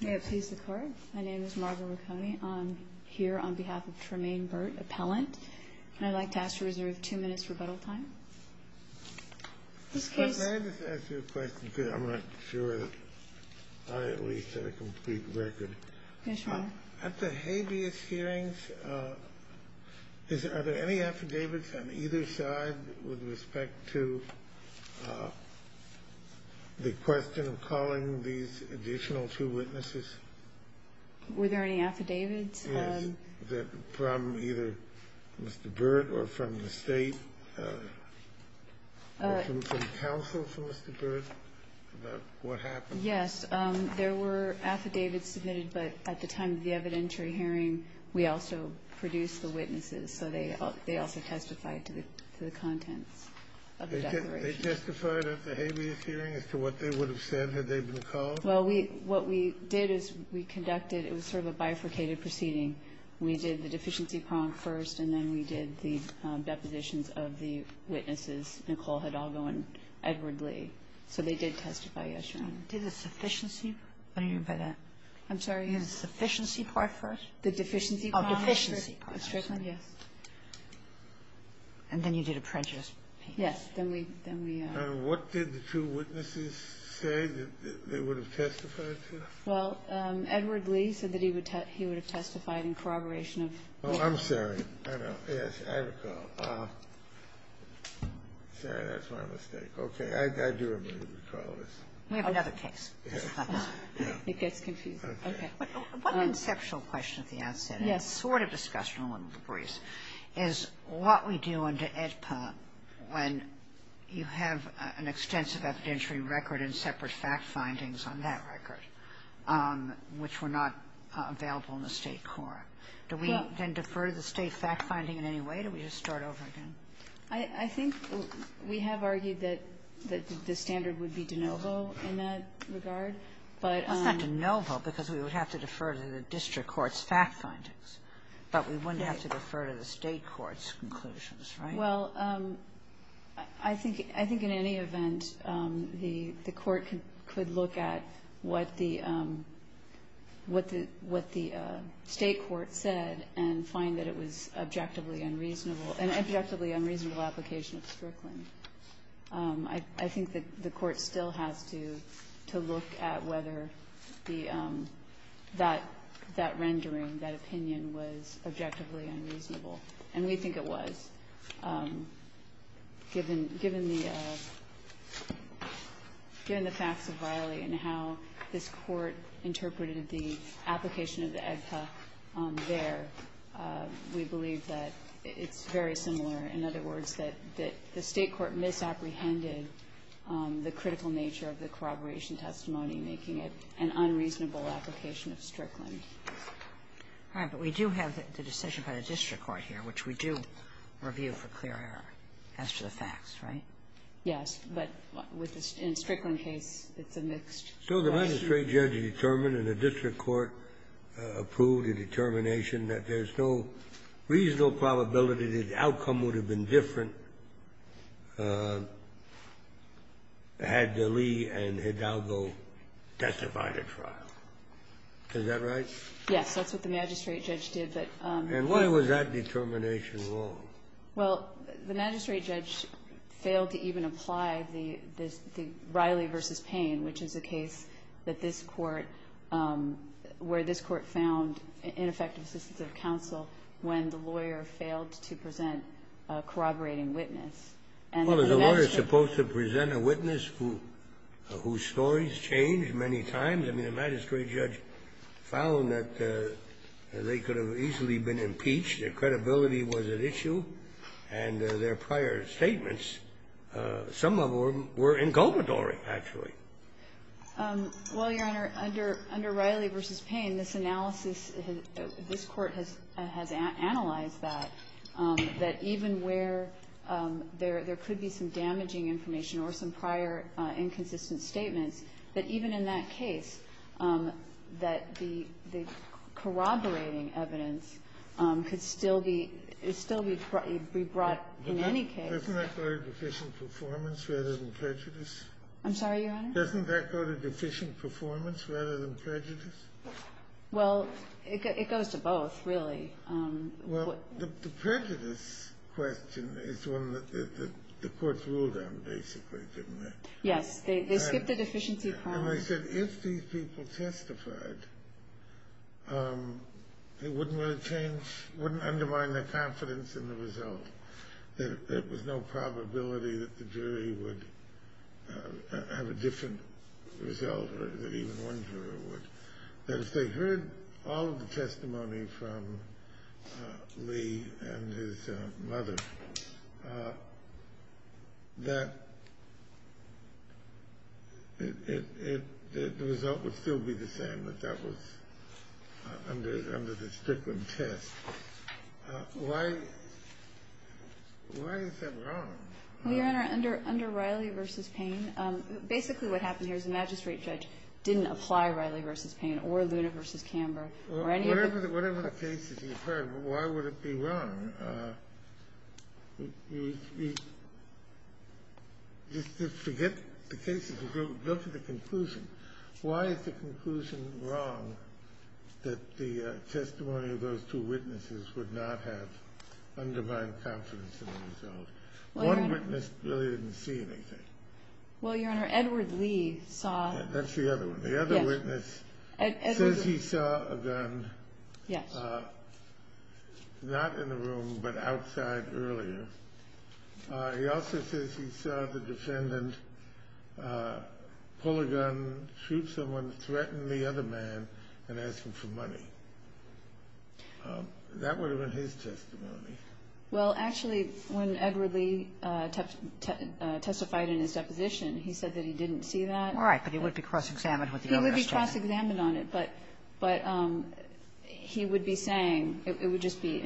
May it please the Court, my name is Margaret Marconi. I'm here on behalf of Tremaine Burt, appellant. And I'd like to ask to reserve two minutes rebuttal time. May I just ask you a question, because I'm not sure I at least have a complete record. Yes, Your Honor. At the habeas hearings, are there any affidavits on either side with respect to the question of calling these additional two witnesses? Were there any affidavits? Yes, from either Mr. Burt or from the State, or from counsel for Mr. Burt, about what happened? Yes, there were affidavits submitted, but at the time of the evidentiary hearing, we also produced the witnesses, so they also testified to the contents of the declaration. They testified at the habeas hearing as to what they would have said had they been called? Well, we what we did is we conducted, it was sort of a bifurcated proceeding. We did the deficiency prompt first, and then we did the depositions of the witnesses, Nicole Hidalgo and Edward Lee. So they did testify, yes, Your Honor. Did the sufficiency, what do you mean by that? I'm sorry? Did the sufficiency part first? The deficiency prompt first. Oh, deficiency prompt first, yes. And then you did apprentice. Yes, then we, then we. And what did the two witnesses say that they would have testified to? Well, Edward Lee said that he would have testified in corroboration of. Oh, I'm sorry. I know. Yes, I recall. Sorry, that's my mistake. Okay. I do remember recalling this. We have another case. Yes. It gets confusing. Okay. One conceptual question at the outset, and it's sort of discussed in a little debris, is what we do under AEDPA when you have an extensive evidentiary record and separate fact findings on that record, which were not available in the state court. Do we then defer to the state fact finding in any way? Do we just start over again? I think we have argued that the standard would be de novo in that regard, but. It's not de novo because we would have to defer to the district court's fact findings. But we wouldn't have to defer to the state court's conclusions, right? Well, I think in any event, the court could look at what the state court said and find that it was objectively unreasonable, an objectively unreasonable application of Strickland. I think that the court still has to look at whether that rendering, that opinion, was objectively unreasonable. And we think it was. Given the facts of Riley and how this Court interpreted the application of the AEDPA there, we believe that it's very similar. In other words, that the state court misapprehended the critical nature of the corroboration testimony, making it an unreasonable application of Strickland. All right. But we do have the decision by the district court here, which we do review for clear error as to the facts, right? Yes. But with the Strickland case, it's a mixed question. So the magistrate judge determined and the district court approved a determination that there's no reasonable probability that the outcome would have been different had the Lee and Hidalgo testified at trial. Is that right? Yes. That's what the magistrate judge did, but the court didn't. And why was that determination wrong? Well, the magistrate judge failed to even apply the Riley v. Payne, which is a case that this Court – where this Court found ineffective assistance of counsel when the lawyer failed to present a corroborating witness. Well, is a lawyer supposed to present a witness whose story's changed many times? I mean, the magistrate judge found that they could have easily been impeached. Their credibility was at issue, and their prior statements, some of them were inculpatory, actually. Well, Your Honor, under Riley v. Payne, this analysis – this Court has analyzed that, that even where there could be some damaging information or some prior inconsistent statements, that even in that case, that the corroborating evidence could still be – could still be brought in any case. Isn't that very deficient performance rather than prejudice? I'm sorry, Your Honor? Doesn't that go to deficient performance rather than prejudice? Well, it goes to both, really. Well, the prejudice question is one that the Court's ruled on, basically, didn't it? Yes. They skipped the deficiency problem. And I said, if these people testified, it wouldn't really change – it wouldn't undermine their confidence in the result, that there was no probability that the jury would have a different result or that even one juror would. That if they heard all of the testimony from Lee and his mother, that it – the result would still be the same, that that was under the Strickland test. Why – why is that wrong? Well, Your Honor, under Riley v. Payne, basically what happened here is the magistrate judge didn't apply Riley v. Payne or Luna v. Camber or any of the – Well, whatever – whatever the cases you've heard, why would it be wrong? You – you – just forget the cases and go to the conclusion. Why is the conclusion wrong that the testimony of those two witnesses would not have undermined confidence in the result? One witness really didn't see anything. Well, Your Honor, Edward Lee saw – That's the other one. The other witness says he saw a gun. Yes. Not in the room, but outside earlier. He also says he saw the defendant pull a gun, shoot someone, threaten the other man, and ask him for money. That would have been his testimony. Well, actually, when Edward Lee testified in his deposition, he said that he didn't see that. All right. But he would be cross-examined with the other witness. He would be cross-examined on it. But – but he would be saying it would just be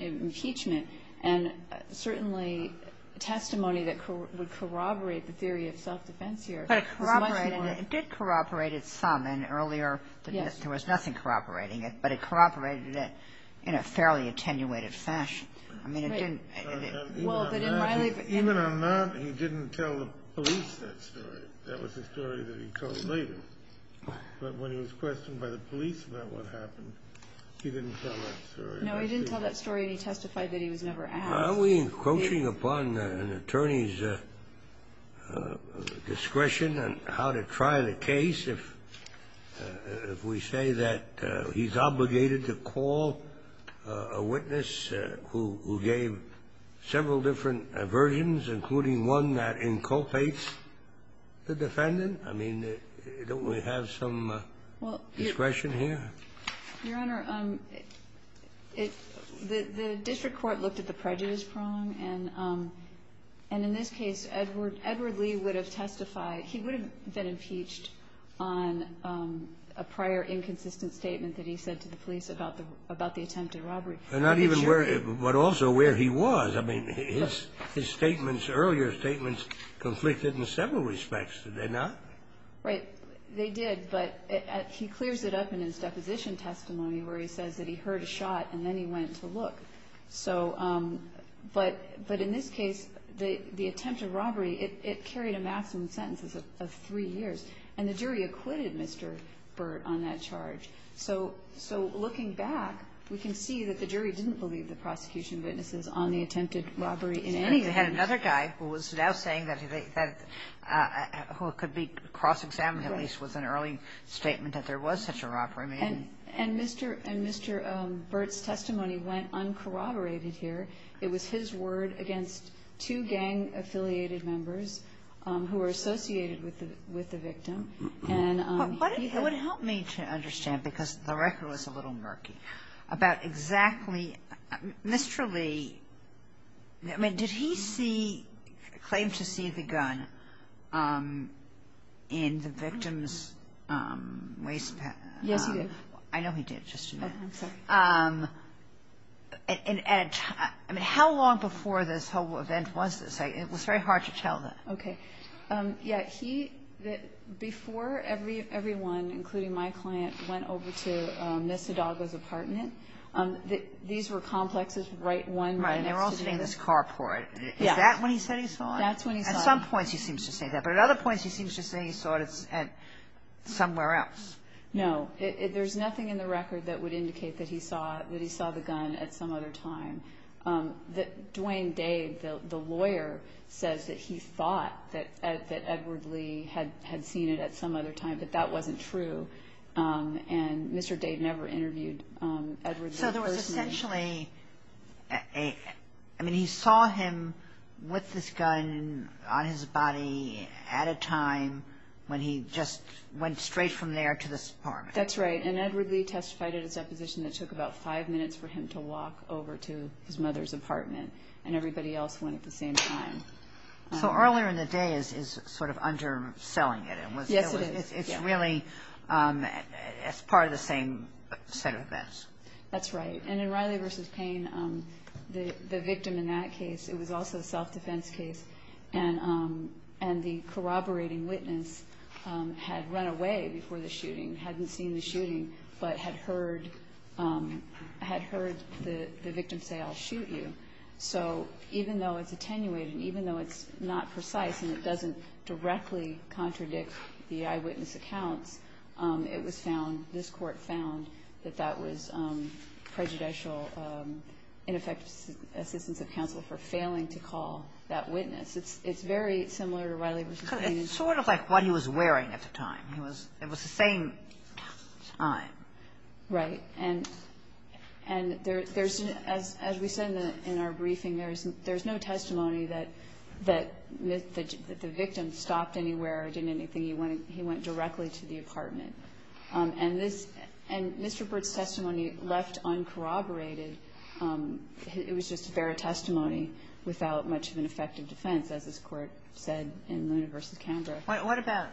impeachment. And certainly testimony that would corroborate the theory of self-defense here was much more – But it corroborated – it did corroborate it some. And earlier there was nothing corroborating it. Yes. But it corroborated it in a fairly attenuated fashion. I mean, it didn't – Right. Well, they didn't – Even on that, he didn't tell the police that story. That was a story that he told later. But when he was questioned by the police about what happened, he didn't tell that story. No, he didn't tell that story, and he testified that he was never asked. Are we encroaching upon an attorney's discretion on how to try the case if we say that he's obligated to call a witness who gave several different versions, including one that inculpates the defendant? I mean, don't we have some discretion here? Well, Your Honor, it – the district court looked at the prejudice prong. And in this case, Edward Lee would have testified – he would have been impeached on a prior inconsistent statement that he said to the police about the attempted robbery. But not even where – but also where he was. I mean, his statements, earlier statements, conflicted in several respects, did they not? Right. They did. But he clears it up in his deposition testimony where he says that he heard a shot and then he went to look. So – but in this case, the attempted robbery, it carried a maximum sentence of three years. And the jury acquitted Mr. Burt on that charge. So looking back, we can see that the jury didn't believe the prosecution witnesses on the attempted robbery in any way. They had another guy who was now saying that – who could be cross-examined, at least, with an early statement that there was such a robbery. And Mr. Burt's testimony went uncorroborated here. It was his word against two gang-affiliated members who were associated with the victim. And he had – It would help me to understand, because the record was a little murky, about exactly – Mr. Lee – I mean, did he see – claim to see the gun in the victim's waist – Yes, he did. I know he did. Just admit it. I'm sorry. And at – I mean, how long before this whole event was this? It was very hard to tell that. Okay. Yeah, he – before everyone, including my client, went over to Nesodaga's apartment, these were complexes right one – Right, and they were all sitting in this carport. Yeah. Is that when he said he saw it? That's when he saw it. At some points, he seems to say that. But at other points, he seems to say he saw it at somewhere else. No. There's nothing in the record that would indicate that he saw – that he saw the gun at some other time. Duane Dade, the lawyer, says that he thought that Edward Lee had seen it at some other time, but that wasn't true. And Mr. Dade never interviewed Edward Lee personally. So there was essentially a – I mean, he saw him with this gun on his body at a time when he just went straight from there to this apartment. That's right. And Edward Lee testified at his deposition that it took about five minutes for him to walk over to his mother's apartment, and everybody else went at the same time. So earlier in the day is sort of underselling it. Yes, it is. It's really – it's part of the same set of events. That's right. And in Riley v. Payne, the victim in that case, it was also a self-defense case, and the corroborating witness had run away before the shooting, hadn't seen the shooting, but had heard – had heard the victim say, I'll shoot you. So even though it's attenuated, even though it's not precise and it doesn't directly contradict the eyewitness accounts, it was found – this Court found that that was prejudicial, ineffective assistance of counsel for failing to call that witness. It's very similar to Riley v. Payne. It's sort of like what he was wearing at the time. It was the same time. Right. And there's – as we said in our briefing, there's no testimony that the victim stopped anywhere or did anything. He went directly to the apartment. And this – and Mr. Burt's testimony left uncorroborated. It was just a fair testimony without much of an effective defense, as this Court said in Luna v. Canberra. What about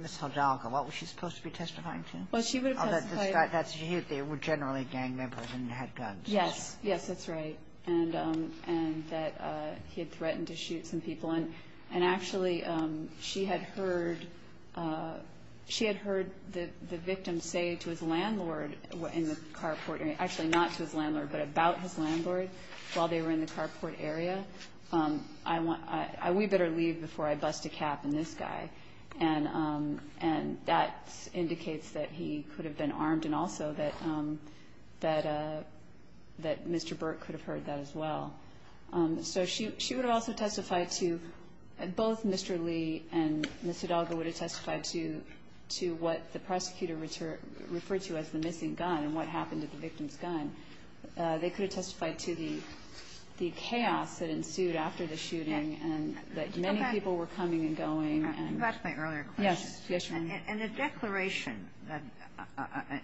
Ms. Hidalgo? What was she supposed to be testifying to? Well, she would have testified – Oh, that this guy – they were generally gang members and had guns. Yes. Yes, that's right. And that he had threatened to shoot some people. And actually, she had heard – she had heard the victim say to his landlord in the carport – actually, not to his landlord, but about his landlord while they were in the carport area, I want – we better leave before I bust a cap in this guy. And that indicates that he could have been armed and also that Mr. Burt could have heard that as well. So she would have also testified to – both Mr. Lee and Ms. Hidalgo would have testified to what the prosecutor referred to as the missing gun and what happened to the victim's gun. They could have testified to the chaos that ensued after the shooting and that many people were coming and going and – Okay. Back to my earlier question. Yes. Yes, Your Honor. And the declaration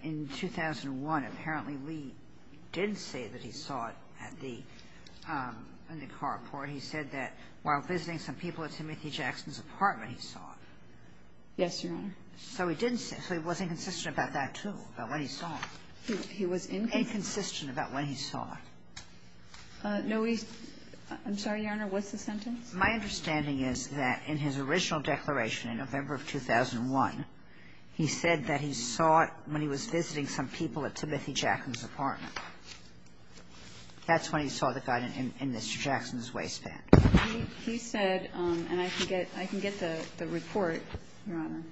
in 2001, apparently Lee did say that he saw it at the – in the carport. He said that while visiting some people at Timothy Jackson's apartment, he saw it. Yes, Your Honor. So he didn't say – so he was inconsistent about that, too, about when he saw it. He was – Inconsistent about when he saw it. No, he – I'm sorry, Your Honor, what's the sentence? My understanding is that in his original declaration in November of 2001, he said that he saw it when he was visiting some people at Timothy Jackson's apartment. That's when he saw the gun in Mr. Jackson's waistband. He said – and I can get – I can get the report, Your Honor.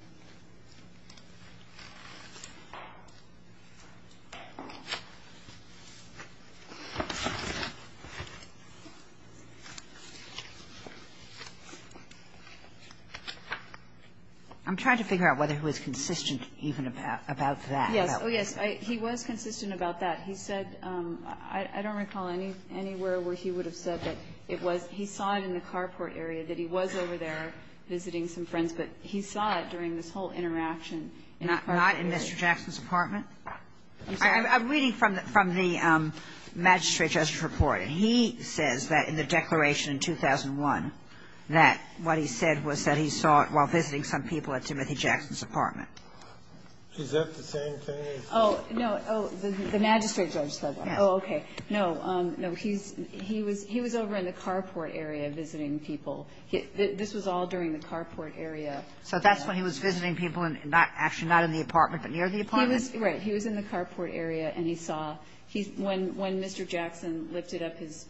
I'm trying to figure out whether he was consistent even about that. Yes. Oh, yes. He was consistent about that. He said – I don't recall anywhere where he would have said that it was – he saw it in the carport area, that he was over there visiting some friends. But he saw it during this whole interaction in the carport area. Not in Mr. Jackson's apartment? I'm sorry. I'm reading from the – from the magistrate justice report. He says that in the declaration in 2001 that what he said was that he saw it while visiting some people at Timothy Jackson's apartment. Is that the same case? Oh, no. Oh, the magistrate judge said that. Yes. Oh, okay. No. No, he's – he was – he was over in the carport area visiting people. This was all during the carport area. So that's when he was visiting people in – actually, not in the apartment, but near the apartment? He was – right. He was in the carport area, and he saw – when Mr. Jackson lifted up his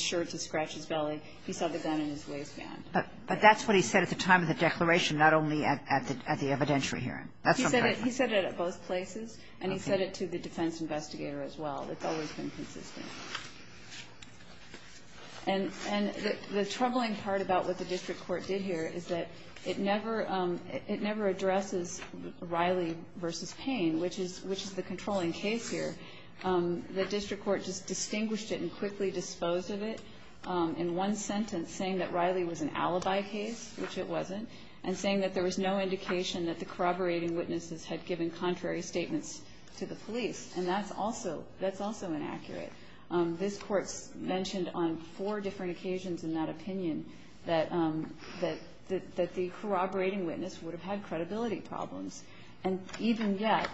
shirt to scratch his belly, he saw the gun in his waistband. But that's what he said at the time of the declaration, not only at the evidentiary hearing. That's what I'm talking about. He said it at both places, and he said it to the defense investigator as well. It's always been consistent. And the troubling part about what the district court did here is that it never addresses Riley v. Payne, which is the controlling case here. The district court just distinguished it and quickly disposed of it in one sentence saying that Riley was an alibi case, which it wasn't, and saying that there was no contrary statements to the police. And that's also – that's also inaccurate. This Court mentioned on four different occasions in that opinion that the corroborating witness would have had credibility problems. And even yet,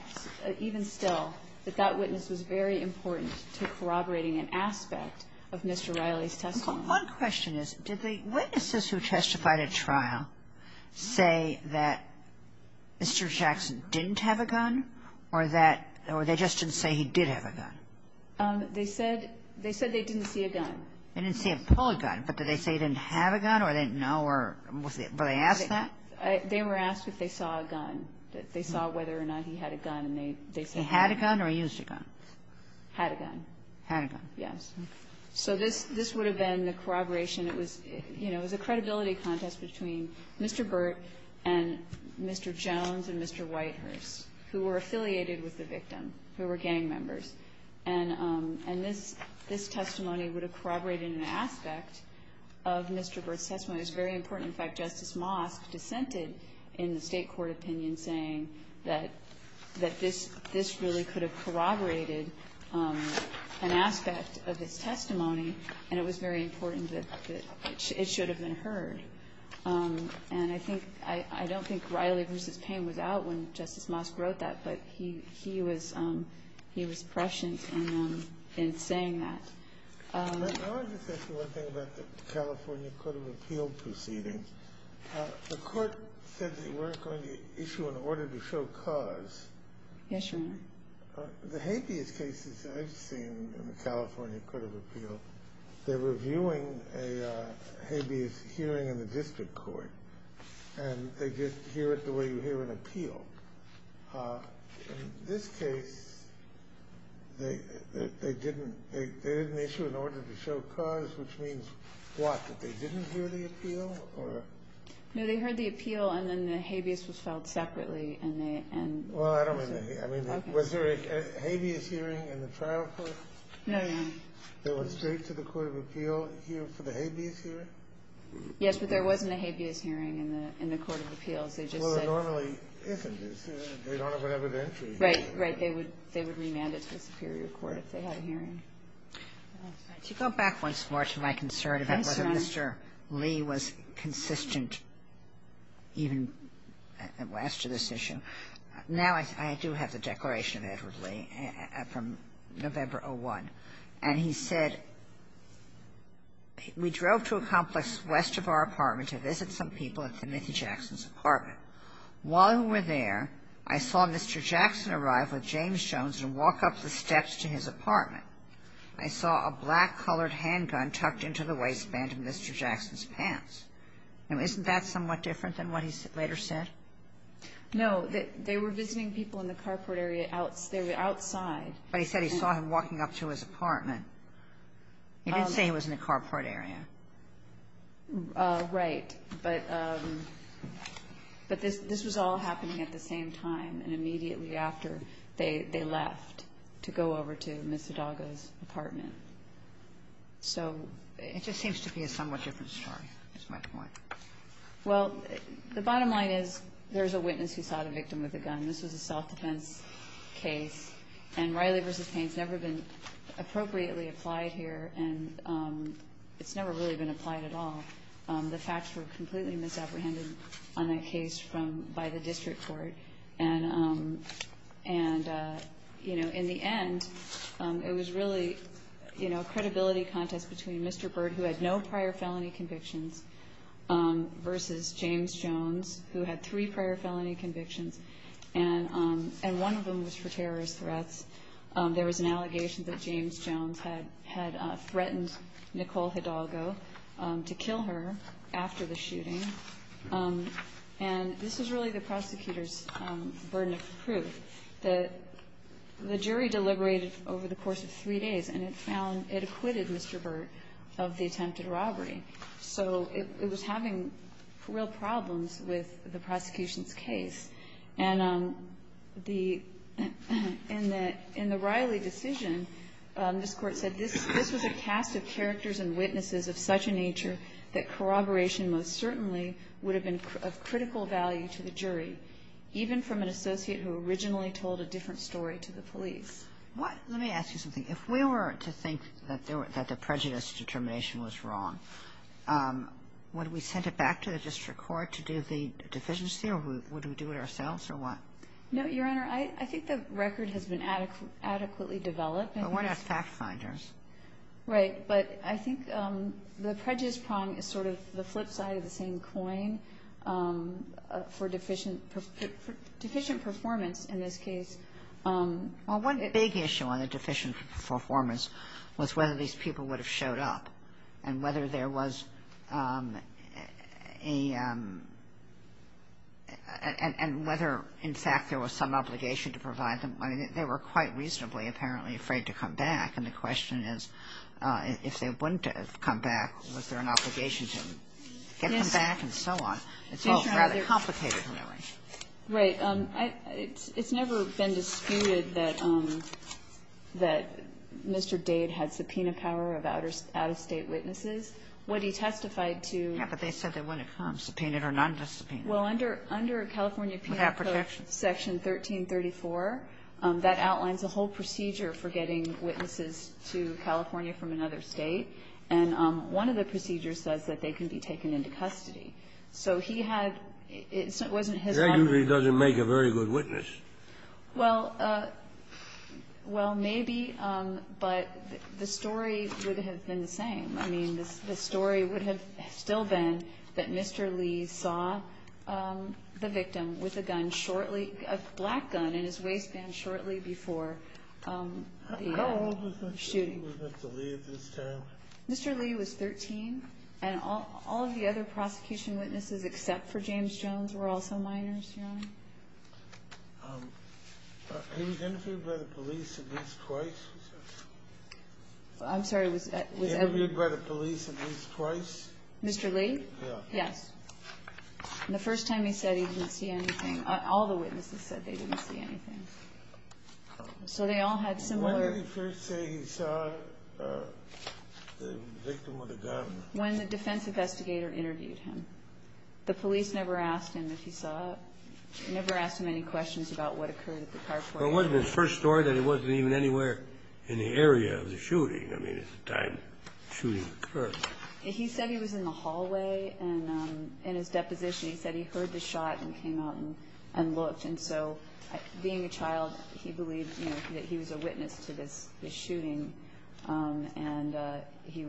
even still, that that witness was very important to corroborating an aspect of Mr. Riley's testimony. One question is, did the witnesses who testified at trial say that Mr. Jackson didn't have a gun, or that – or they just didn't say he did have a gun? They said – they said they didn't see a gun. They didn't see a pulled gun, but did they say he didn't have a gun, or they didn't know, or was it – were they asked that? They were asked if they saw a gun, that they saw whether or not he had a gun, and they – they said that. He had a gun or he used a gun? Had a gun. Had a gun. Yes. So this – this would have been the corroboration. It was – you know, it was a credibility contest between Mr. Burt and Mr. Jones and Mr. Whitehurst, who were affiliated with the victim, who were gang members. And – and this – this testimony would have corroborated an aspect of Mr. Burt's testimony. It's very important. In fact, Justice Mosk dissented in the State court opinion saying that – that this really could have corroborated an aspect of his testimony, and it was very important that – that it should have been heard. And I think – I don't think Riley v. Payne was out when Justice Mosk wrote that, but he – he was – he was prescient in saying that. Let me just ask you one thing about the California Court of Appeal proceeding. The court said they weren't going to issue an order to show cause. Yes, Your Honor. The habeas cases I've seen in the California Court of Appeal, they were viewing a habeas hearing in the district court, and they just hear it the way you hear an appeal. In this case, they – they didn't – they didn't issue an order to show cause, which means what? That they didn't hear the appeal, or? No, they heard the appeal, and then the habeas was filed separately, and they – and So I don't – I mean, was there a habeas hearing in the trial court? No, Your Honor. There was straight to the court of appeal for the habeas hearing? Yes, but there wasn't a habeas hearing in the – in the court of appeals. They just said – Well, there normally isn't. They don't have an evidentiary hearing. Right. Right. They would – they would remand it to the superior court if they had a hearing. Could you go back once more to my concern about whether Mr. Lee was consistent even as to this issue? Now, I do have the declaration of Edward Lee from November of 01. And he said, We drove to a complex west of our apartment to visit some people at Timothy Jackson's apartment. While we were there, I saw Mr. Jackson arrive with James Jones and walk up the steps to his apartment. I saw a black-colored handgun tucked into the waistband of Mr. Jackson's pants. Now, isn't that somewhat different than what he later said? No. They were visiting people in the carport area outside. But he said he saw him walking up to his apartment. He didn't say he was in the carport area. Right. But this was all happening at the same time and immediately after they left to go over to Ms. Hidaga's apartment. It just seems to be a somewhat different story, is my point. Well, the bottom line is there's a witness who saw the victim with a gun. This was a self-defense case. And Riley v. Payne has never been appropriately applied here, and it's never really been applied at all. The facts were completely misapprehended on that case by the district court. And, you know, in the end, it was really a credibility contest between Mr. Byrd, who had no prior felony convictions, versus James Jones, who had three prior felony convictions, and one of them was for terrorist threats. There was an allegation that James Jones had threatened Nicole Hidalgo to kill her after the shooting. And this was really the prosecutor's burden of proof. The jury deliberated over the course of three days, and it found it acquitted Mr. Byrd of the attempted robbery. So it was having real problems with the prosecution's case. And in the Riley decision, this Court said this was a cast of characters and witnesses of such a nature that corroboration most certainly would have been of critical value to the jury, even from an associate who originally told a different story to the police. Let me ask you something. If we were to think that the prejudice determination was wrong, would we send it back to the district court to do the deficiency, or would we do it ourselves, or what? No, Your Honor, I think the record has been adequately developed. But we're not fact-finders. Right. But I think the prejudice prong is sort of the flip side of the same coin for deficient performance in this case. Well, one big issue on the deficient performance was whether these people would have showed up and whether there was a ñ and whether, in fact, there was some obligation to provide them. I mean, they were quite reasonably apparently afraid to come back. And the question is, if they wouldn't have come back, was there an obligation to get them back and so on? It's all rather complicated, really. Right. It's never been disputed that Mr. Dade had subpoena power of out-of-state witnesses. What he testified to ñ Yeah, but they said they wouldn't have come, subpoenaed or not subpoenaed. Well, under California penal code section 1334, that outlines a whole procedure for getting witnesses to California from another State, and one of the procedures says that they can be taken into custody. So he had ñ it wasn't his own ñ That usually doesn't make a very good witness. Well, maybe, but the story would have been the same. I mean, the story would have still been that Mr. Lee saw the victim with a gun shortly ñ a black gun in his waistband shortly before the shooting. How old was Mr. Lee at this time? Mr. Lee was 13, and all of the other prosecution witnesses except for James Jones were also minors, Your Honor. He was interviewed by the police at least twice? I'm sorry. He was interviewed by the police at least twice? Mr. Lee? Yes. And the first time he said he didn't see anything ñ all the witnesses said they didn't see anything. So they all had similar ñ When did he first say he saw the victim with a gun? When the defense investigator interviewed him. The police never asked him if he saw ñ never asked him any questions about what occurred at the carport. Well, it wasn't his first story that it wasn't even anywhere in the area of the shooting. I mean, at the time the shooting occurred. He said he was in the hallway, and in his deposition he said he heard the shot and came out and looked. And so being a child, he believed, you know, that he was a witness to this shooting, and he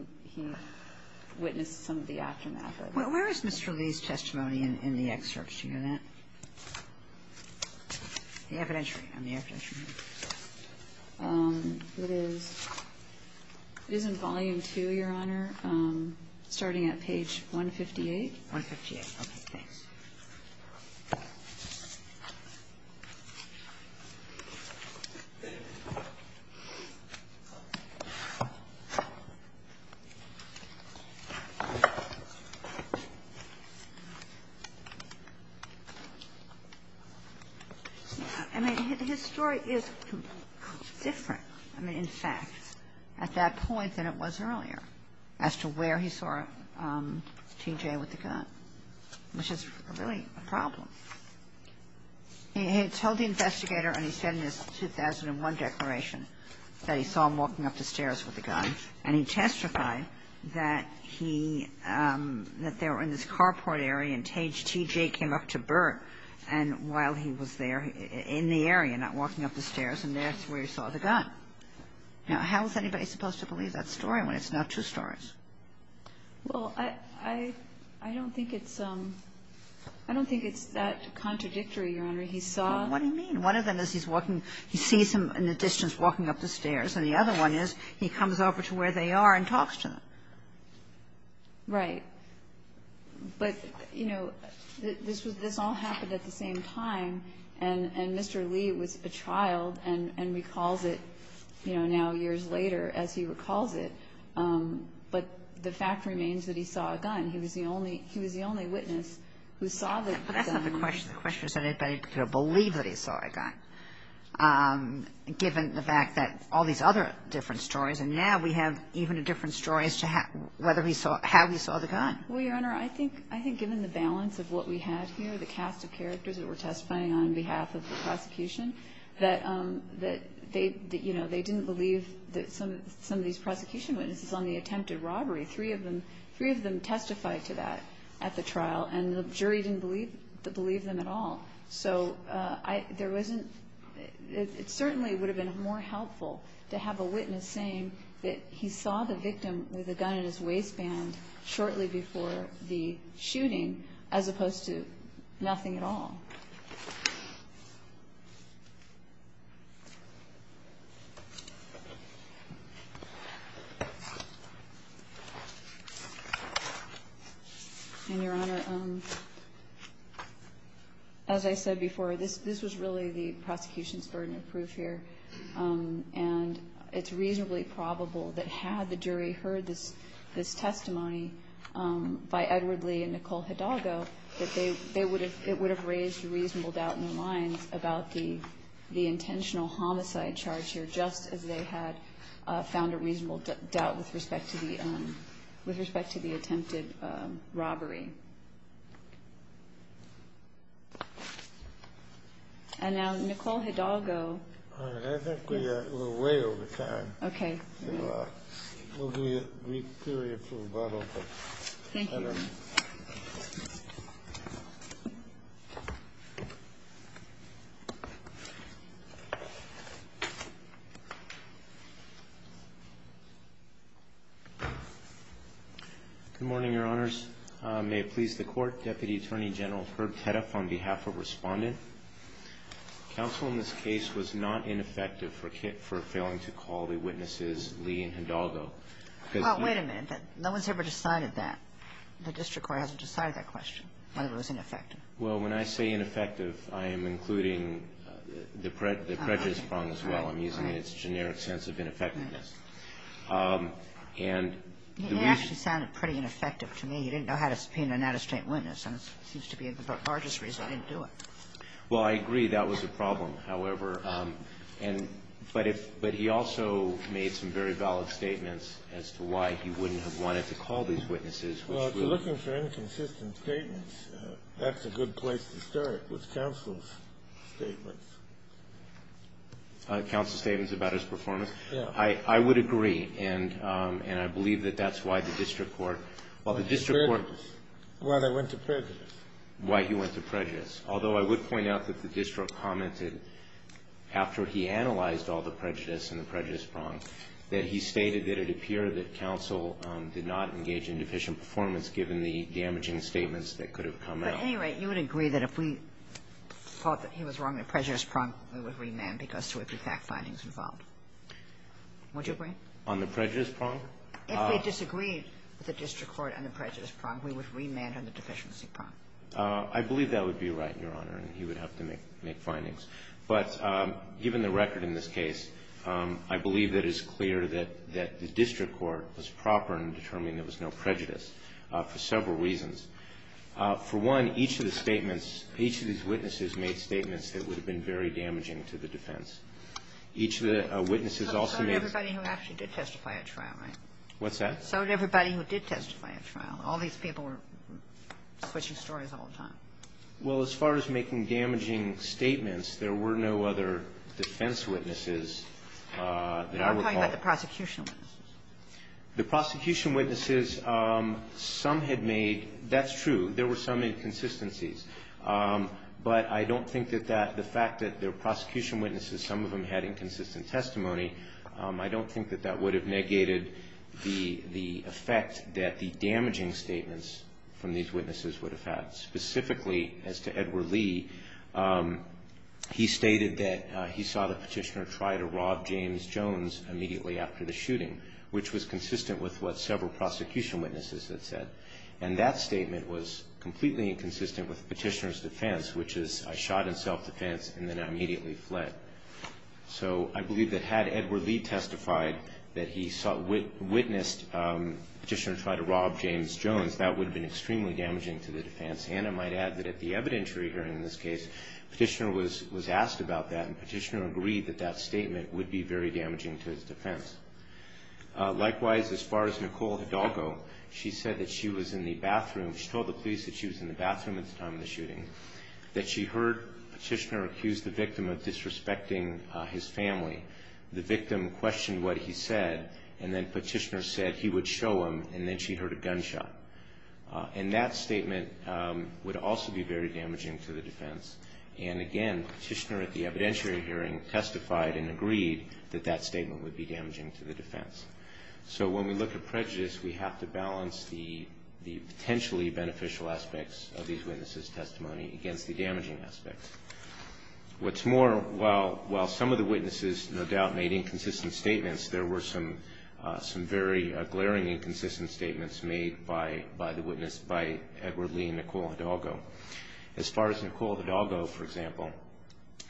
witnessed some of the aftermath of it. Where is Mr. Lee's testimony in the excerpts? Do you know that? The evidentiary. On the evidentiary. It is in volume two, Your Honor, starting at page 158. 158. Thanks. I mean, his story is different, in fact, at that point than it was earlier as to where he saw T.J. with the gun. Which is really a problem. He told the investigator, and he said in his 2001 declaration that he saw him walking up the stairs with the gun, and he testified that he ñ that they were in this carport area, and T.J. came up to Burt, and while he was there in the area, not walking up the stairs, and that's where he saw the gun. Now, how is anybody supposed to believe that story when it's not two stories? Well, I don't think it's ñ I don't think it's that contradictory, Your Honor. He saw ñ Well, what do you mean? One of them is he's walking ñ he sees him in the distance walking up the stairs, and the other one is he comes over to where they are and talks to them. Right. But, you know, this was ñ this all happened at the same time, and Mr. Lee was a child and recalls it, you know, now years later as he recalls it. But the fact remains that he saw a gun. He was the only ñ he was the only witness who saw the gun. But that's not the question. The question is that anybody could have believed that he saw a gun, given the fact that all these other different stories, and now we have even different stories to how ñ whether he saw ñ how he saw the gun. Well, Your Honor, I think ñ I think given the balance of what we had here, the cast of characters that were testifying on behalf of the prosecution, that they didn't believe that some of these prosecution witnesses on the attempted robbery, three of them testified to that at the trial, and the jury didn't believe them at all. So there wasn't ñ it certainly would have been more helpful to have a witness saying that he saw the victim with a gun in his waistband shortly before the shooting, as opposed to nothing at all. And, Your Honor, as I said before, this was really the prosecution's burden of proof here. And it's reasonably probable that had the jury heard this testimony by Edward Lee and Nicole Hidalgo, that they ñ they would have ñ it would have raised real questions. about the intentional homicide charge here, just as they had found a reasonable doubt with respect to the ñ with respect to the attempted robbery. And now, Nicole Hidalgo. All right. I think we are ñ we're way over time. Okay. So we'll give you a brief period for rebuttal. Thank you. All right. Good morning, Your Honors. May it please the Court, Deputy Attorney General Herb Tedeff on behalf of Respondent. Counsel in this case was not ineffective for failing to call the witnesses Lee and Hidalgo. Well, wait a minute. No one's ever decided that. The district court hasn't decided that question, whether it was ineffective. Well, when I say ineffective, I am including the prejudice prong as well. I'm using its generic sense of ineffectiveness. And the reason ñ He actually sounded pretty ineffective to me. He didn't know how to subpoena an out-of-state witness. And it seems to be the largest reason he didn't do it. Well, I agree. That was a problem. However, and ñ but if ñ but he also made some very valid statements as to why he wouldn't have wanted to call these witnesses. Well, if you're looking for inconsistent statements, that's a good place to start, was counsel's statements. Counsel's statements about his performance? Yeah. I would agree. And I believe that that's why the district court ñ Why they went to prejudice. Why he went to prejudice. Although I would point out that the district commented, after he analyzed all the prejudice and the prejudice prong, that he stated that it appeared that counsel did not engage in deficient performance, given the damaging statements that could have come out. But, at any rate, you would agree that if we thought that he was wrong in the prejudice prong, we would remand because there would be fact findings involved. Would you agree? On the prejudice prong? If we disagreed with the district court on the prejudice prong, we would remand on the deficiency prong. I believe that would be right, Your Honor, and he would have to make findings. But given the record in this case, I believe that it's clear that the district court was proper in determining there was no prejudice for several reasons. For one, each of the statements ñ each of these witnesses made statements that would have been very damaging to the defense. Each of the witnesses also made ñ So did everybody who actually did testify at trial, right? What's that? So did everybody who did testify at trial. All these people were switching stories all the time. Well, as far as making damaging statements, there were no other defense witnesses that I would call ñ I'm talking about the prosecution witnesses. The prosecution witnesses, some had made ñ that's true. There were some inconsistencies. But I don't think that that ñ the fact that the prosecution witnesses, some of them had inconsistent testimony, I don't think that that would have negated the effect that the damaging statements from these witnesses would have had. Specifically, as to Edward Lee, he stated that he saw the petitioner try to rob James Jones immediately after the shooting, which was consistent with what several prosecution witnesses had said. And that statement was completely inconsistent with the petitioner's defense, which is, I shot in self-defense and then I immediately fled. So I believe that had Edward Lee testified that he witnessed the petitioner try to rob James Jones, that would have been extremely damaging to the defense. And I might add that at the evidentiary hearing in this case, the petitioner was asked about that and the petitioner agreed that that statement would be very damaging to his defense. Likewise, as far as Nicole Hidalgo, she said that she was in the bathroom, she told the police that she was in the bathroom at the time of the shooting, that she heard the family, the victim questioned what he said, and then petitioner said he would show him and then she heard a gunshot. And that statement would also be very damaging to the defense. And again, petitioner at the evidentiary hearing testified and agreed that that statement would be damaging to the defense. So when we look at prejudice, we have to balance the potentially beneficial aspects of these witnesses' testimony against the damaging aspects. What's more, while some of the witnesses no doubt made inconsistent statements, there were some very glaring inconsistent statements made by the witness, by Edward Lee and Nicole Hidalgo. As far as Nicole Hidalgo, for example,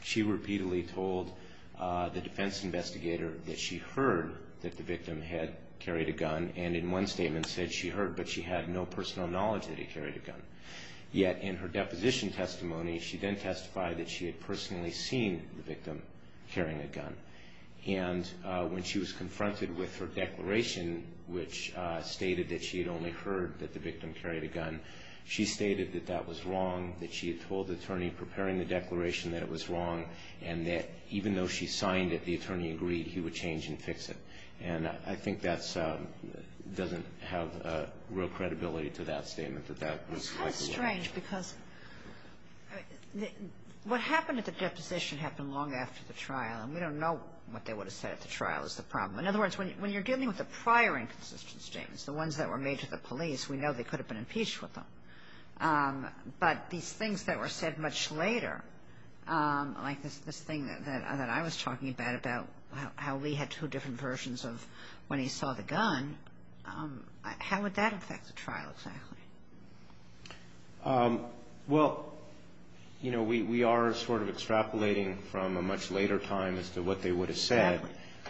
she repeatedly told the defense investigator that she heard that the victim had carried a gun and in one statement said she heard, yet in her deposition testimony, she then testified that she had personally seen the victim carrying a gun. And when she was confronted with her declaration, which stated that she had only heard that the victim carried a gun, she stated that that was wrong, that she had told the attorney preparing the declaration that it was wrong, and that even though she signed it, the attorney agreed he would change and fix it. And I think that's doesn't have real credibility to that statement, that that was like a lie. It's kind of strange because what happened at the deposition happened long after the trial, and we don't know what they would have said at the trial is the problem. In other words, when you're dealing with the prior inconsistent statements, the ones that were made to the police, we know they could have been impeached with them. But these things that were said much later, like this thing that I was talking about, about how Lee had two different versions of when he saw the gun, how would that affect the trial exactly? Well, you know, we are sort of extrapolating from a much later time as to what they would have said.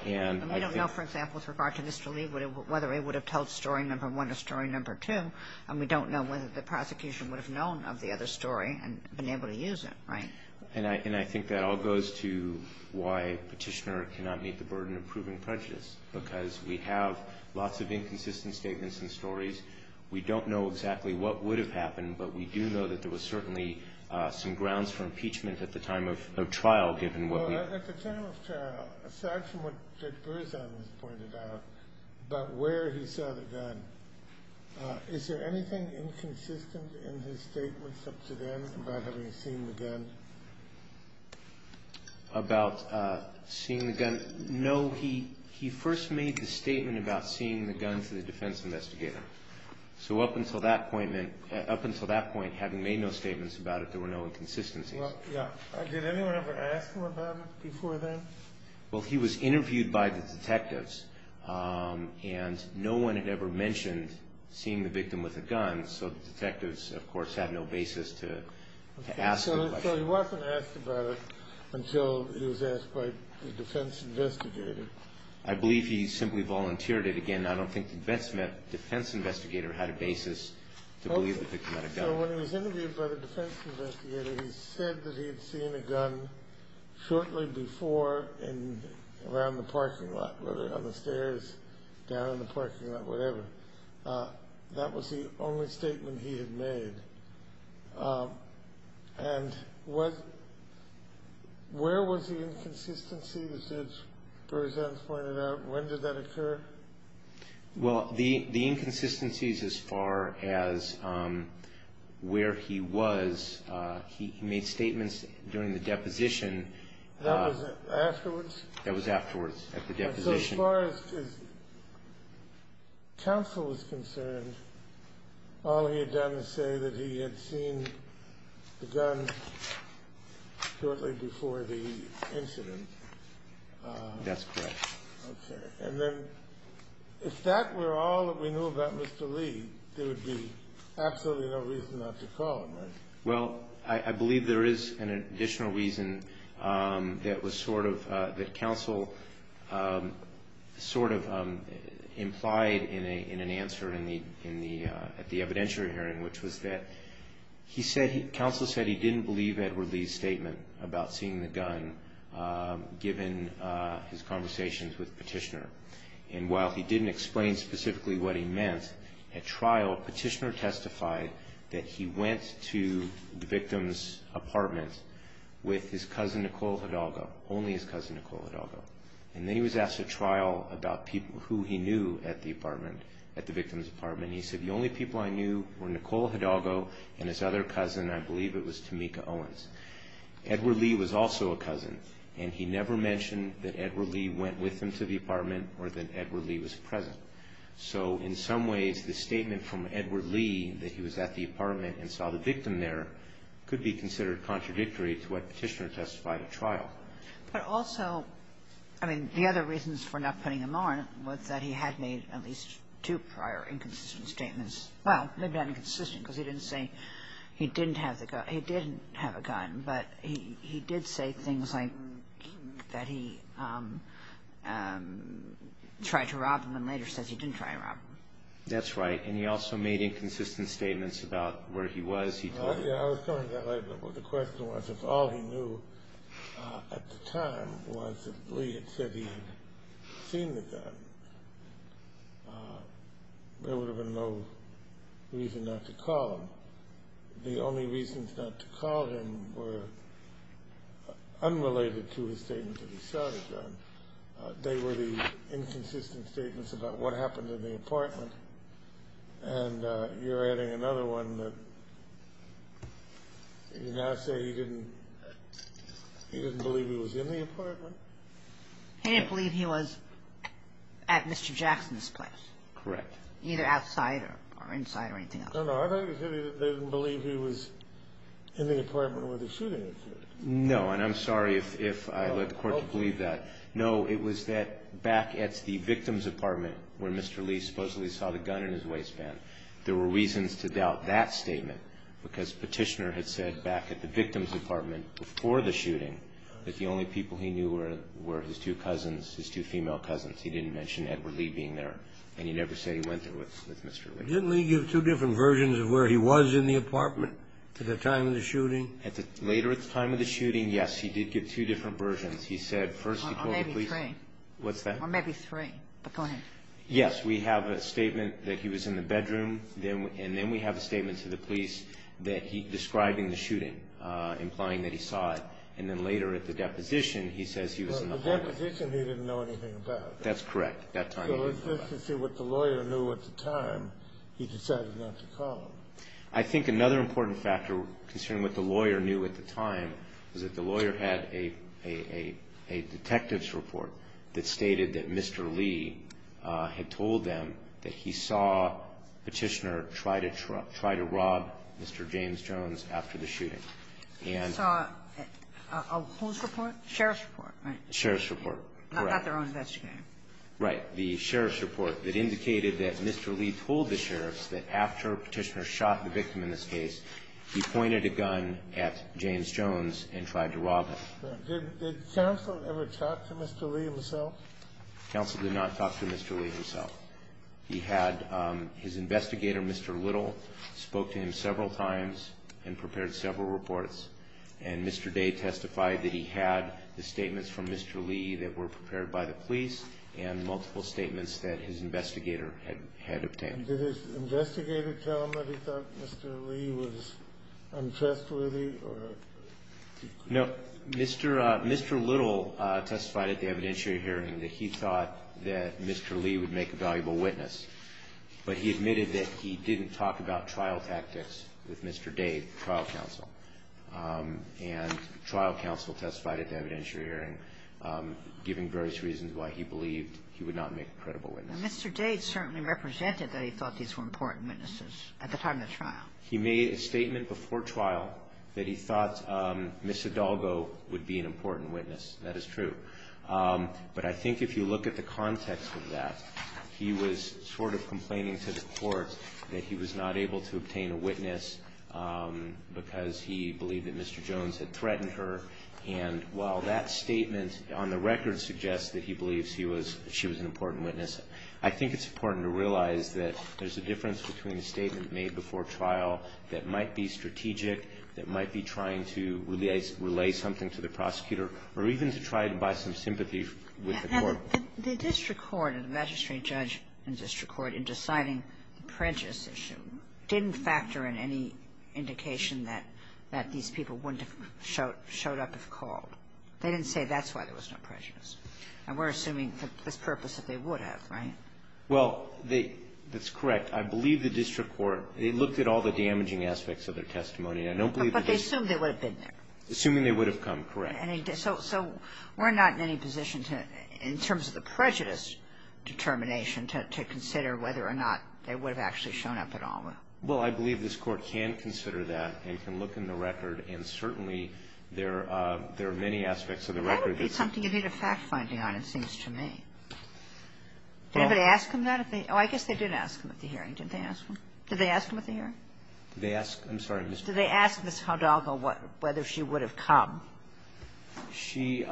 And we don't know, for example, with regard to Mr. Lee, whether he would have told story number one or story number two, and we don't know whether the prosecution would have known of the other story and been able to use it, right? And I think that all goes to why Petitioner cannot meet the burden of proving prejudice, because we have lots of inconsistent statements and stories. We don't know exactly what would have happened, but we do know that there was certainly some grounds for impeachment at the time of trial, given what we have. Well, at the time of trial, aside from what Judge Berzon has pointed out about where he saw the gun, is there anything inconsistent in his statements up to then about having seen the gun? About seeing the gun? No, he first made the statement about seeing the gun to the defense investigator. So up until that point, having made no statements about it, there were no inconsistencies. Did anyone ever ask him about it before then? Well, he was interviewed by the detectives, and no one had ever mentioned seeing the victim with a gun, so the detectives, of course, had no basis to ask. So he wasn't asked about it until he was asked by the defense investigator. I believe he simply volunteered it. Again, I don't think the defense investigator had a basis to believe the victim had a gun. So when he was interviewed by the defense investigator, he said that he had seen a gun shortly before around the parking lot, whether on the stairs, down in the parking lot, whatever, that was the only statement he had made. And where was the inconsistency, as Judge Berzan has pointed out? When did that occur? Well, the inconsistencies as far as where he was, he made statements during the deposition. That was afterwards? That was afterwards, at the deposition. So as far as counsel was concerned, all he had done was say that he had seen the gun shortly before the incident. That's correct. Okay. And then if that were all that we knew about Mr. Lee, there would be absolutely no reason not to call him, right? Well, I believe there is an additional reason that counsel sort of implied in an answer at the evidentiary hearing, which was that counsel said he didn't believe Edward Lee's statement about seeing the gun, given his conversations with Petitioner. And while he didn't explain specifically what he meant, at trial Petitioner testified that he went to the victim's apartment with his cousin Nicole Hidalgo, only his cousin Nicole Hidalgo. And then he was asked at trial about who he knew at the apartment, at the victim's apartment, and he said the only people I knew were Nicole Hidalgo and his other cousin, I believe it was Tamika Owens. Edward Lee was also a cousin, and he never mentioned that Edward Lee went with him to the apartment or that Edward Lee was present. So in some ways, the statement from Edward Lee that he was at the apartment and saw the victim there could be considered contradictory to what Petitioner testified at trial. But also, I mean, the other reasons for not putting him on was that he had made at least two prior inconsistent statements. Well, maybe not inconsistent because he didn't say he didn't have the gun. He didn't have a gun, but he did say things like that he tried to rob him and later says he didn't try to rob him. That's right. And he also made inconsistent statements about where he was. I was coming to that later, but the question was if all he knew at the time was that Lee had said he had seen the gun, there would have been no reason not to call him. The only reasons not to call him were unrelated to his statement that he shot a gun. They were the inconsistent statements about what happened in the apartment. And you're adding another one that you now say he didn't believe he was in the apartment. He didn't believe he was at Mr. Jackson's place. Correct. Either outside or inside or anything else. No, no. I thought you said they didn't believe he was in the apartment where the shooting occurred. No, and I'm sorry if I let the court believe that. No, it was that back at the victim's apartment where Mr. Lee supposedly saw the gun in his waistband, there were reasons to doubt that statement because Petitioner had said back at the victim's apartment before the shooting that the only people he knew were his two cousins, his two female cousins. He didn't mention Edward Lee being there. And he never said he went there with Mr. Lee. Didn't Lee give two different versions of where he was in the apartment at the time of the shooting? Later at the time of the shooting, yes, he did give two different versions. He said first he told the police. Or maybe three. What's that? Or maybe three. But go ahead. Yes, we have a statement that he was in the bedroom, and then we have a statement to the police describing the shooting, implying that he saw it. And then later at the deposition, he says he was in the apartment. At the deposition, he didn't know anything about it. That's correct. At that time, he didn't know about it. So it's just to see what the lawyer knew at the time he decided not to call him. I think another important factor, considering what the lawyer knew at the time, was that the lawyer had a detective's report that stated that Mr. Lee had told them that he saw Petitioner try to rob Mr. James Jones after the shooting. He saw a who's report? Sheriff's report, right? Sheriff's report, correct. Not their own investigator. Right. The sheriff's report that indicated that Mr. Lee told the sheriffs that after Petitioner shot the victim in this case, he pointed a gun at James Jones and tried to rob him. Did counsel ever talk to Mr. Lee himself? Counsel did not talk to Mr. Lee himself. He had his investigator, Mr. Little, spoke to him several times and prepared several reports. And Mr. Day testified that he had the statements from Mr. Lee that were prepared by the police and multiple statements that his investigator had obtained. Did his investigator tell him that he thought Mr. Lee was untrustworthy? No. Mr. Little testified at the evidentiary hearing that he thought that Mr. Lee would make a valuable witness. But he admitted that he didn't talk about trial tactics with Mr. Day, trial counsel. And trial counsel testified at the evidentiary hearing, giving various reasons why he believed he would not make a credible witness. Mr. Day certainly represented that he thought these were important witnesses at the time of the trial. He made a statement before trial that he thought Ms. Hidalgo would be an important witness. That is true. But I think if you look at the context of that, he was sort of complaining to the court that he was not able to obtain a witness because he believed that Mr. Jones had threatened her. And while that statement on the record suggests that he believes she was an important witness, I think it's important to realize that there's a difference between a statement made before trial that might be strategic, that might be trying to relay something to the prosecutor, or even to try to buy some sympathy with the court. The district court and the magistrate judge in district court in deciding the prejudice issue didn't factor in any indication that these people wouldn't have showed up if called. They didn't say that's why there was no prejudice. And we're assuming for this purpose that they would have, right? Well, that's correct. I believe the district court, they looked at all the damaging aspects of their testimony. I don't believe that they ---- But they assumed they would have been there. Assuming they would have come, correct. So we're not in any position to, in terms of the prejudice determination, to consider whether or not they would have actually shown up at all. Well, I believe this Court can consider that and can look in the record. And certainly there are many aspects of the record that ---- That would be something you need a fact-finding on, it seems to me. Did anybody ask him that? Oh, I guess they did ask him at the hearing. Didn't they ask him? Did they ask him at the hearing? Did they ask? I'm sorry, Ms. ---- Did they ask Ms. Hidalgo whether she would have come? She ----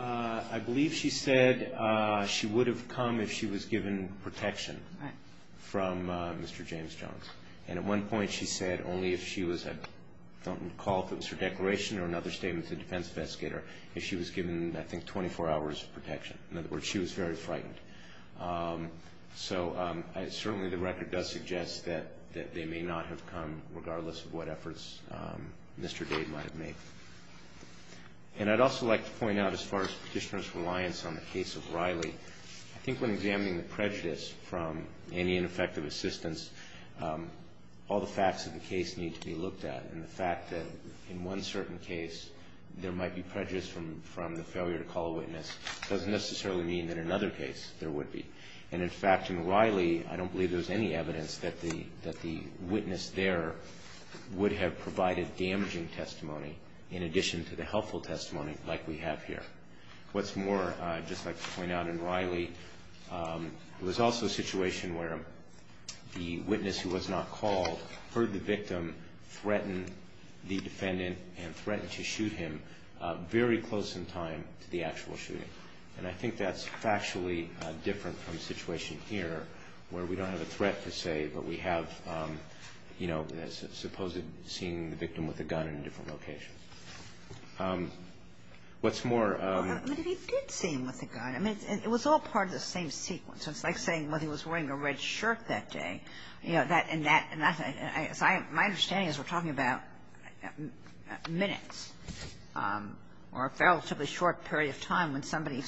I believe she said she would have come if she was given protection from Mr. James Jones. And at one point, she said only if she was at, I don't recall if it was her declaration or another statement to the defense investigator, if she was given, I think, 24 hours of protection. In other words, she was very frightened. So certainly the record does suggest that they may not have come, regardless of what efforts Mr. Dade might have made. And I'd also like to point out, as far as Petitioner's reliance on the case of Riley, I think when examining the prejudice from any ineffective assistance, all the facts of the case need to be looked at. And the fact that in one certain case there might be prejudice from the failure to call a witness doesn't necessarily mean that in another case there would be. And in fact, in Riley, I don't believe there's any evidence that the witness there would have provided damaging testimony in addition to the helpful testimony like we have here. What's more, I'd just like to point out in Riley, there was also a situation where the witness who was not called heard the victim threaten the defendant and threatened to shoot him very close in time to the actual shooting. And I think that's factually different from the situation here, where we don't have a threat, per se, but we have, you know, supposedly seen the victim with a gun in a different location. What's more... Well, he did see him with a gun. I mean, it was all part of the same sequence. It's like saying whether he was wearing a red shirt that day. My understanding is we're talking about minutes or a relatively short period of time. If somebody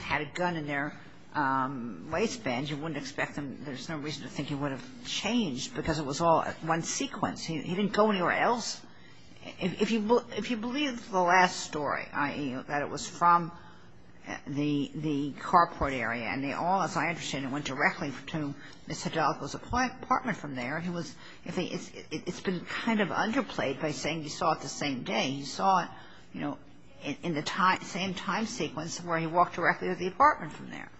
had a gun in their waistband, you wouldn't expect them, there's no reason to think he would have changed because it was all one sequence. He didn't go anywhere else. If you believe the last story, i.e., that it was from the carport area, and they all, as I understand, went directly to Ms. Hidalgo's apartment from there. It's been kind of underplayed by saying you saw it the same day. You saw it, you know, in the same time sequence where he walked directly to the apartment from there.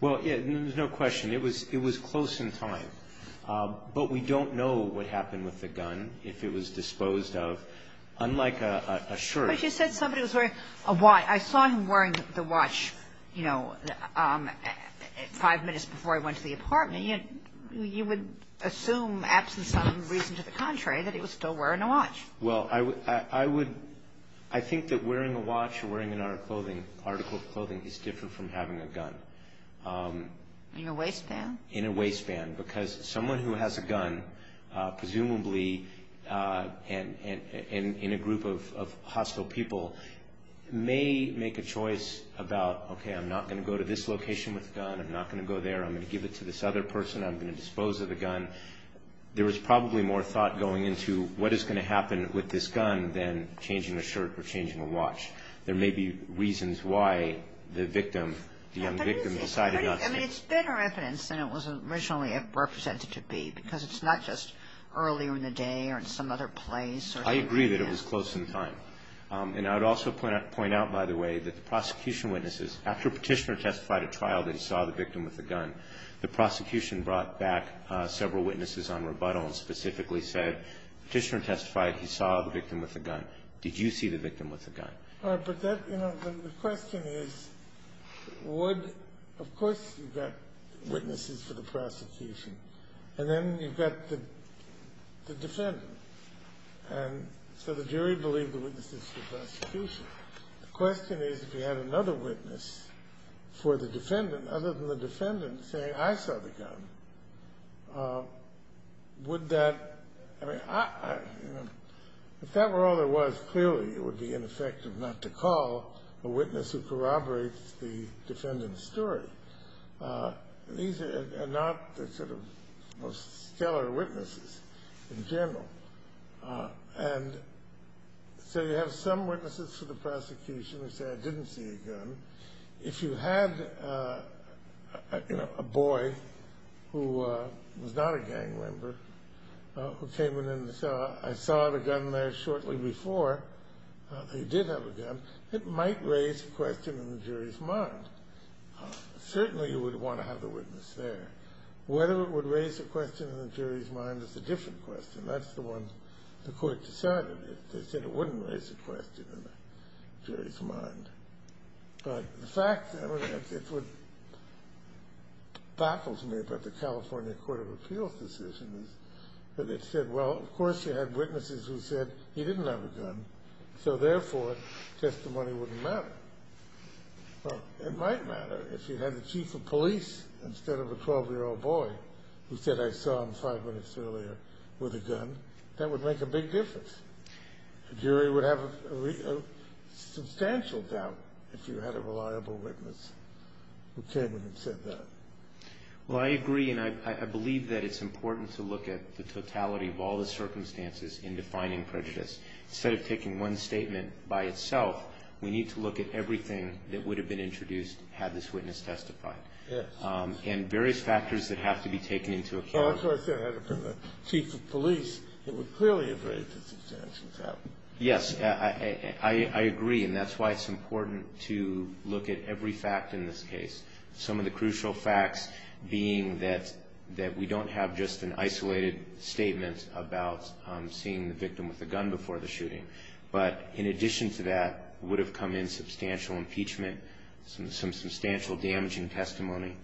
Well, there's no question. It was close in time. But we don't know what happened with the gun, if it was disposed of, unlike a shirt. But you said somebody was wearing a watch. I saw him wearing the watch, you know, five minutes before he went to the apartment. You would assume, absent some reason to the contrary, that he was still wearing a watch. Well, I would, I think that wearing a watch or wearing an article of clothing is different from having a gun. In your waistband? In a waistband, because someone who has a gun, presumably in a group of hostile people, may make a choice about, okay, I'm not going to go to this location with a gun, I'm not going to go there, I'm going to give it to this other person, I'm going to dispose of the gun. There is probably more thought going into what is going to happen with this gun than changing a shirt or changing a watch. There may be reasons why the victim, the young victim decided not to. I mean, it's better evidence than it was originally represented to be, because it's not just earlier in the day or in some other place. I agree that it was close in time. And I would also point out, by the way, that the prosecution witnesses, after Petitioner testified at trial that he saw the victim with the gun, the prosecution brought back several witnesses on rebuttal and specifically said, Petitioner testified he saw the victim with the gun. Did you see the victim with the gun? All right, but that, you know, the question is, would, of course you've got witnesses for the prosecution, and then you've got the defendant, and so the jury believed the witnesses for the prosecution. The question is, if you had another witness for the defendant, other than the defendant saying, I saw the gun, would that, I mean, if that were all there was, clearly it would be ineffective not to call a witness who corroborates the defendant's story. These are not the sort of most stellar witnesses in general. And so you have some witnesses for the prosecution who say, I didn't see a gun. If you had, you know, a boy who was not a gang member who came in and said, I saw the gun there shortly before, he did have a gun, it might raise a question in the jury's mind. Certainly you would want to have the witness there. Whether it would raise a question in the jury's mind is a different question. That's the one the court decided. They said it wouldn't raise a question in the jury's mind. But the fact, I mean, it would, baffles me about the California Court of Appeals decision is that they said, well, of course you had witnesses who said he didn't have a gun, so therefore testimony wouldn't matter. It might matter if you had the chief of police instead of a 12-year-old boy who said, I saw him five minutes earlier with a gun. That would make a big difference. The jury would have a substantial doubt if you had a reliable witness who came in and said that. Well, I agree, and I believe that it's important to look at the totality of all the circumstances in defining prejudice. Instead of taking one statement by itself, we need to look at everything that would have been introduced had this witness testified. Yes. And various factors that have to be taken into account. Well, that's why I said I had a chief of police that would clearly have raised a substantial doubt. Yes, I agree, and that's why it's important to look at every fact in this case. Some of the crucial facts being that we don't have just an isolated statement about seeing the victim with a gun before the shooting. But in addition to that, would have come in substantial impeachment, some substantial damaging testimony.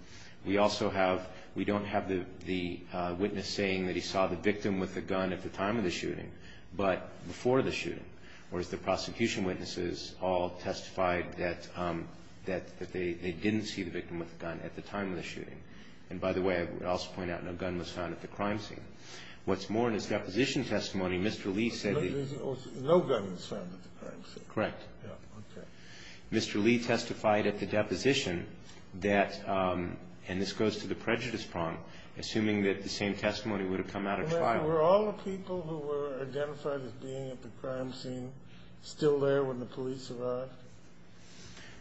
We also have we don't have the witness saying that he saw the victim with a gun at the time of the shooting, but before the shooting. Whereas the prosecution witnesses all testified that they didn't see the victim with a gun at the time of the shooting. And by the way, I would also point out no gun was found at the crime scene. What's more, in his deposition testimony, Mr. Lee said that he No gun was found at the crime scene. Correct. Okay. Mr. Lee testified at the deposition that, and this goes to the prejudice prong, assuming that the same testimony would have come out of trial. Were all the people who were identified as being at the crime scene still there when the police arrived?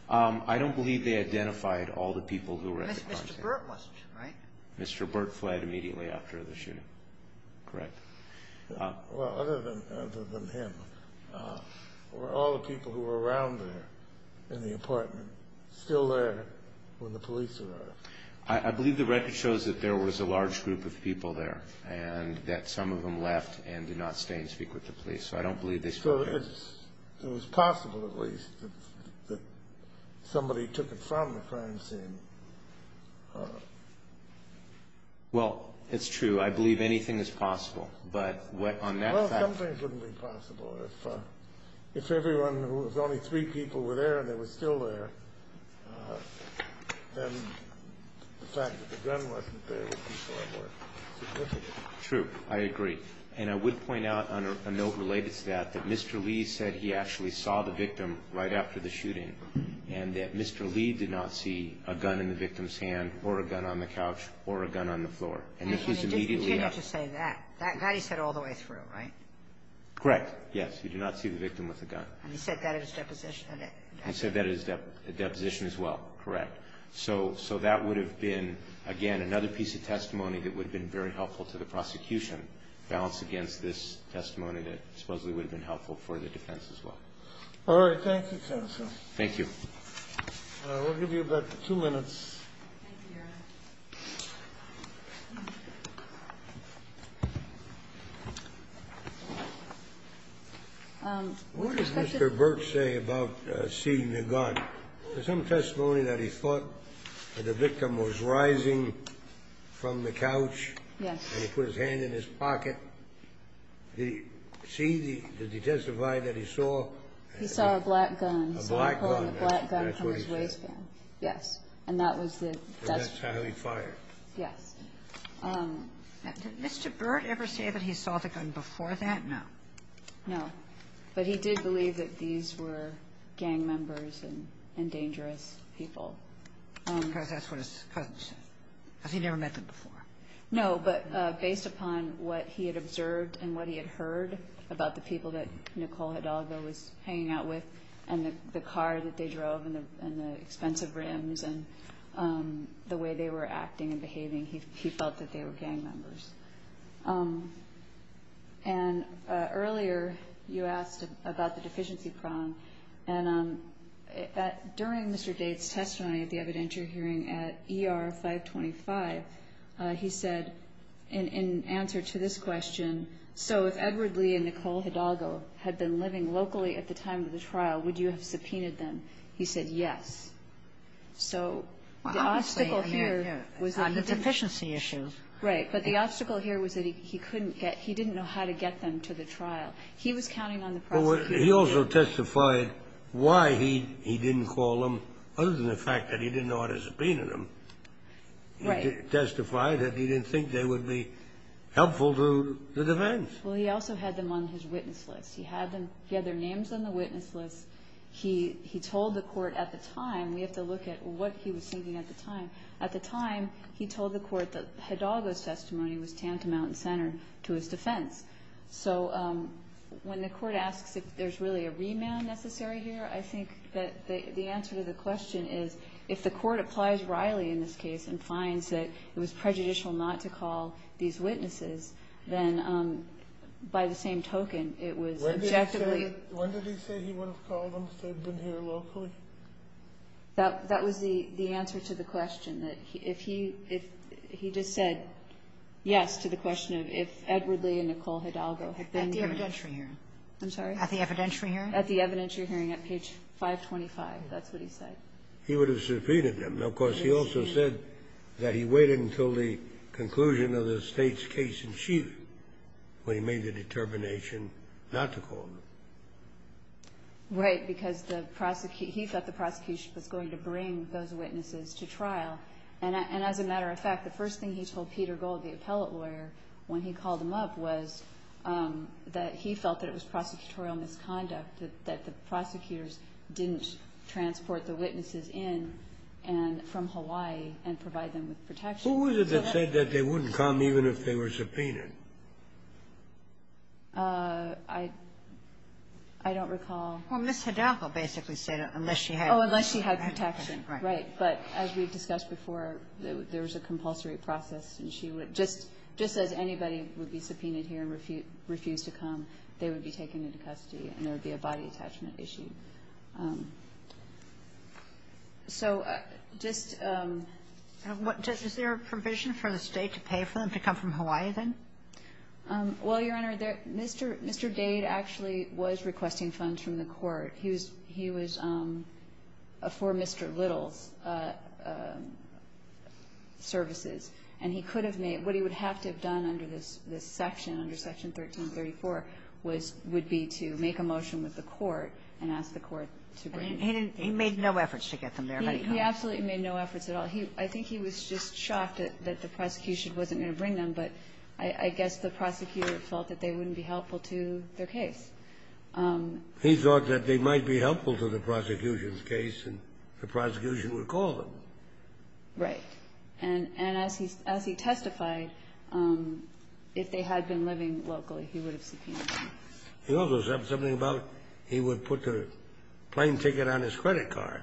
I don't believe they identified all the people who were at the crime scene. Mr. Burt was, right? Mr. Burt fled immediately after the shooting. Correct. Well, other than him, were all the people who were around there in the apartment still there when the police arrived? I believe the record shows that there was a large group of people there, and that some of them left and did not stay and speak with the police. So I don't believe they stayed there. So it was possible, at least, that somebody took it from the crime scene. Well, it's true. I believe anything is possible, but on that fact Well, some things wouldn't be possible. If everyone who was only three people were there and they were still there, then the fact that the gun wasn't there would be far more significant. True. I agree. And I would point out on a note related to that, that Mr. Lee said he actually saw the victim right after the shooting, and that Mr. Lee did not see a gun in the victim's hand or a gun on the couch or a gun on the floor. And if he's immediately He did not just say that. That he said all the way through, right? Correct. Yes, he did not see the victim with a gun. He said that at his deposition. He said that at his deposition as well. Correct. So that would have been, again, another piece of testimony that would have been very helpful to the prosecution, balanced against this testimony that supposedly would have been helpful for the defense as well. All right. Thank you, counsel. Thank you. We'll give you about two minutes. What does Mr. Burke say about seeing the gun? There's some testimony that he thought that the victim was rising from the couch. Yes. And he put his hand in his pocket. Did he see? Did he testify that he saw? He saw a black gun. A black gun. A black gun from his waistband. Yes. And that was the desk. That's how he fired. Yes. Did Mr. Burke ever say that he saw the gun before that? No. No. But he did believe that these were gang members and dangerous people. Because that's what his cousin said. Because he never met them before. No. But based upon what he had observed and what he had heard about the people that Nicole Hidalgo was hanging out with and the car that they drove and the expensive rims and the way they were acting and behaving, he felt that they were gang members. And earlier you asked about the deficiency prong. And during Mr. Bates' testimony at the evidentiary hearing at ER 525, he said in answer to this question, so if Edward Lee and Nicole Hidalgo had been living locally at the time of the trial, would you have subpoenaed them? He said yes. So the obstacle here was that he didn't know how to get them to the trial. He was counting on the prosecution. He also testified why he didn't call them, other than the fact that he didn't know how to subpoena them. Right. And he testified that he didn't think they would be helpful to the defense. Well, he also had them on his witness list. He had them ñ he had their names on the witness list. He told the court at the time ñ we have to look at what he was thinking at the time. At the time, he told the court that Hidalgo's testimony was tantamount and centered to his defense. So when the court asks if there's really a remand necessary here, I think that the answer to the question is, if the court applies Reilly in this case and finds that it was prejudicial not to call these witnesses, then by the same token, it was objectively ñ When did he say he would have called them if they'd been here locally? That was the answer to the question, that if he just said yes to the question of if Edward Lee and Nicole Hidalgo had been here. At the evidentiary hearing. I'm sorry? At the evidentiary hearing. At the evidentiary hearing at page 525. That's what he said. He would have subpoenaed them. Of course, he also said that he waited until the conclusion of the State's case in chief when he made the determination not to call them. Right, because the prosecutor ñ he thought the prosecution was going to bring those witnesses to trial. And as a matter of fact, the first thing he told Peter Gold, the appellate lawyer, when he called them up, was that he felt that it was prosecutorial misconduct, that the prosecutors didn't transport the witnesses in and from Hawaii and provide them with protection. Who was it that said that they wouldn't come even if they were subpoenaed? I don't recall. Well, Ms. Hidalgo basically said unless she had protection. Oh, unless she had protection. Right. Right. But as we've discussed before, there was a compulsory process. And she would just ñ just as anybody would be subpoenaed here and refused to come, they would be taken into custody and there would be a body attachment issue. So just ñ Is there a provision for the State to pay for them to come from Hawaii, then? Well, Your Honor, Mr. ñ Mr. Dade actually was requesting funds from the court. He was ñ he was for Mr. Little's services. And he could have made ñ what he would have to have done under this section, under Section 1334, was ñ would be to make a motion with the court and ask the court to bring them. He didn't ñ he made no efforts to get them there. He absolutely made no efforts at all. He ñ I think he was just shocked that the prosecution wasn't going to bring them, but I guess the prosecutor felt that they wouldn't be helpful to their case. He thought that they might be helpful to the prosecution's case and the prosecution would call them. Right. And as he testified, if they had been living locally, he would have subpoenaed them. He also said something about he would put the plane ticket on his credit card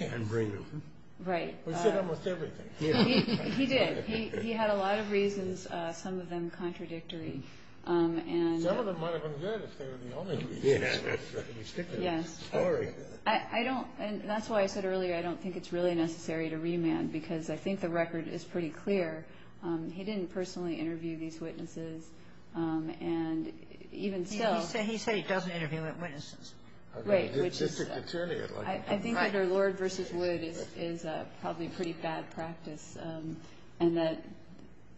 and bring them. Right. He said almost everything. He did. He had a lot of reasons, some of them contradictory, and ñ Some of them might have been good if they were the only reasons. Yeah. Yes. Sorry. I don't ñ and that's why I said earlier I don't think it's really necessary to remand because I think the record is pretty clear. He didn't personally interview these witnesses. And even still ñ He said he doesn't interview witnesses. Right. Which is ñ I think under Lord v. Wood is probably pretty bad practice and that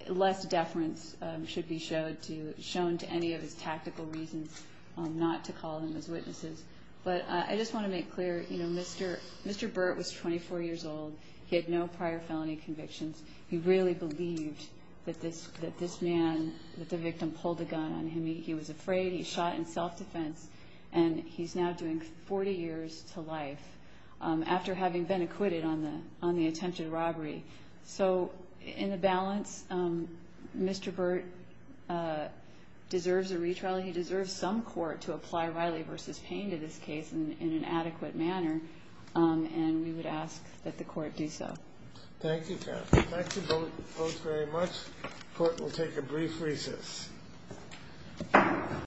less deference should be shown to any of his tactical reasons not to call them as witnesses. But I just want to make clear, you know, Mr. ñ Mr. Burt was 24 years old. He had no prior felony convictions. He really believed that this man, that the victim pulled a gun on him. He was afraid. He shot in self-defense. And he's now doing 40 years to life after having been acquitted on the attempted robbery. So in the balance, Mr. Burt deserves a retrial. He deserves some court to apply Riley v. Payne to this case in an adequate manner. And we would ask that the court do so. Thank you, Kathy. Thank you both very much. The court will take a brief recess.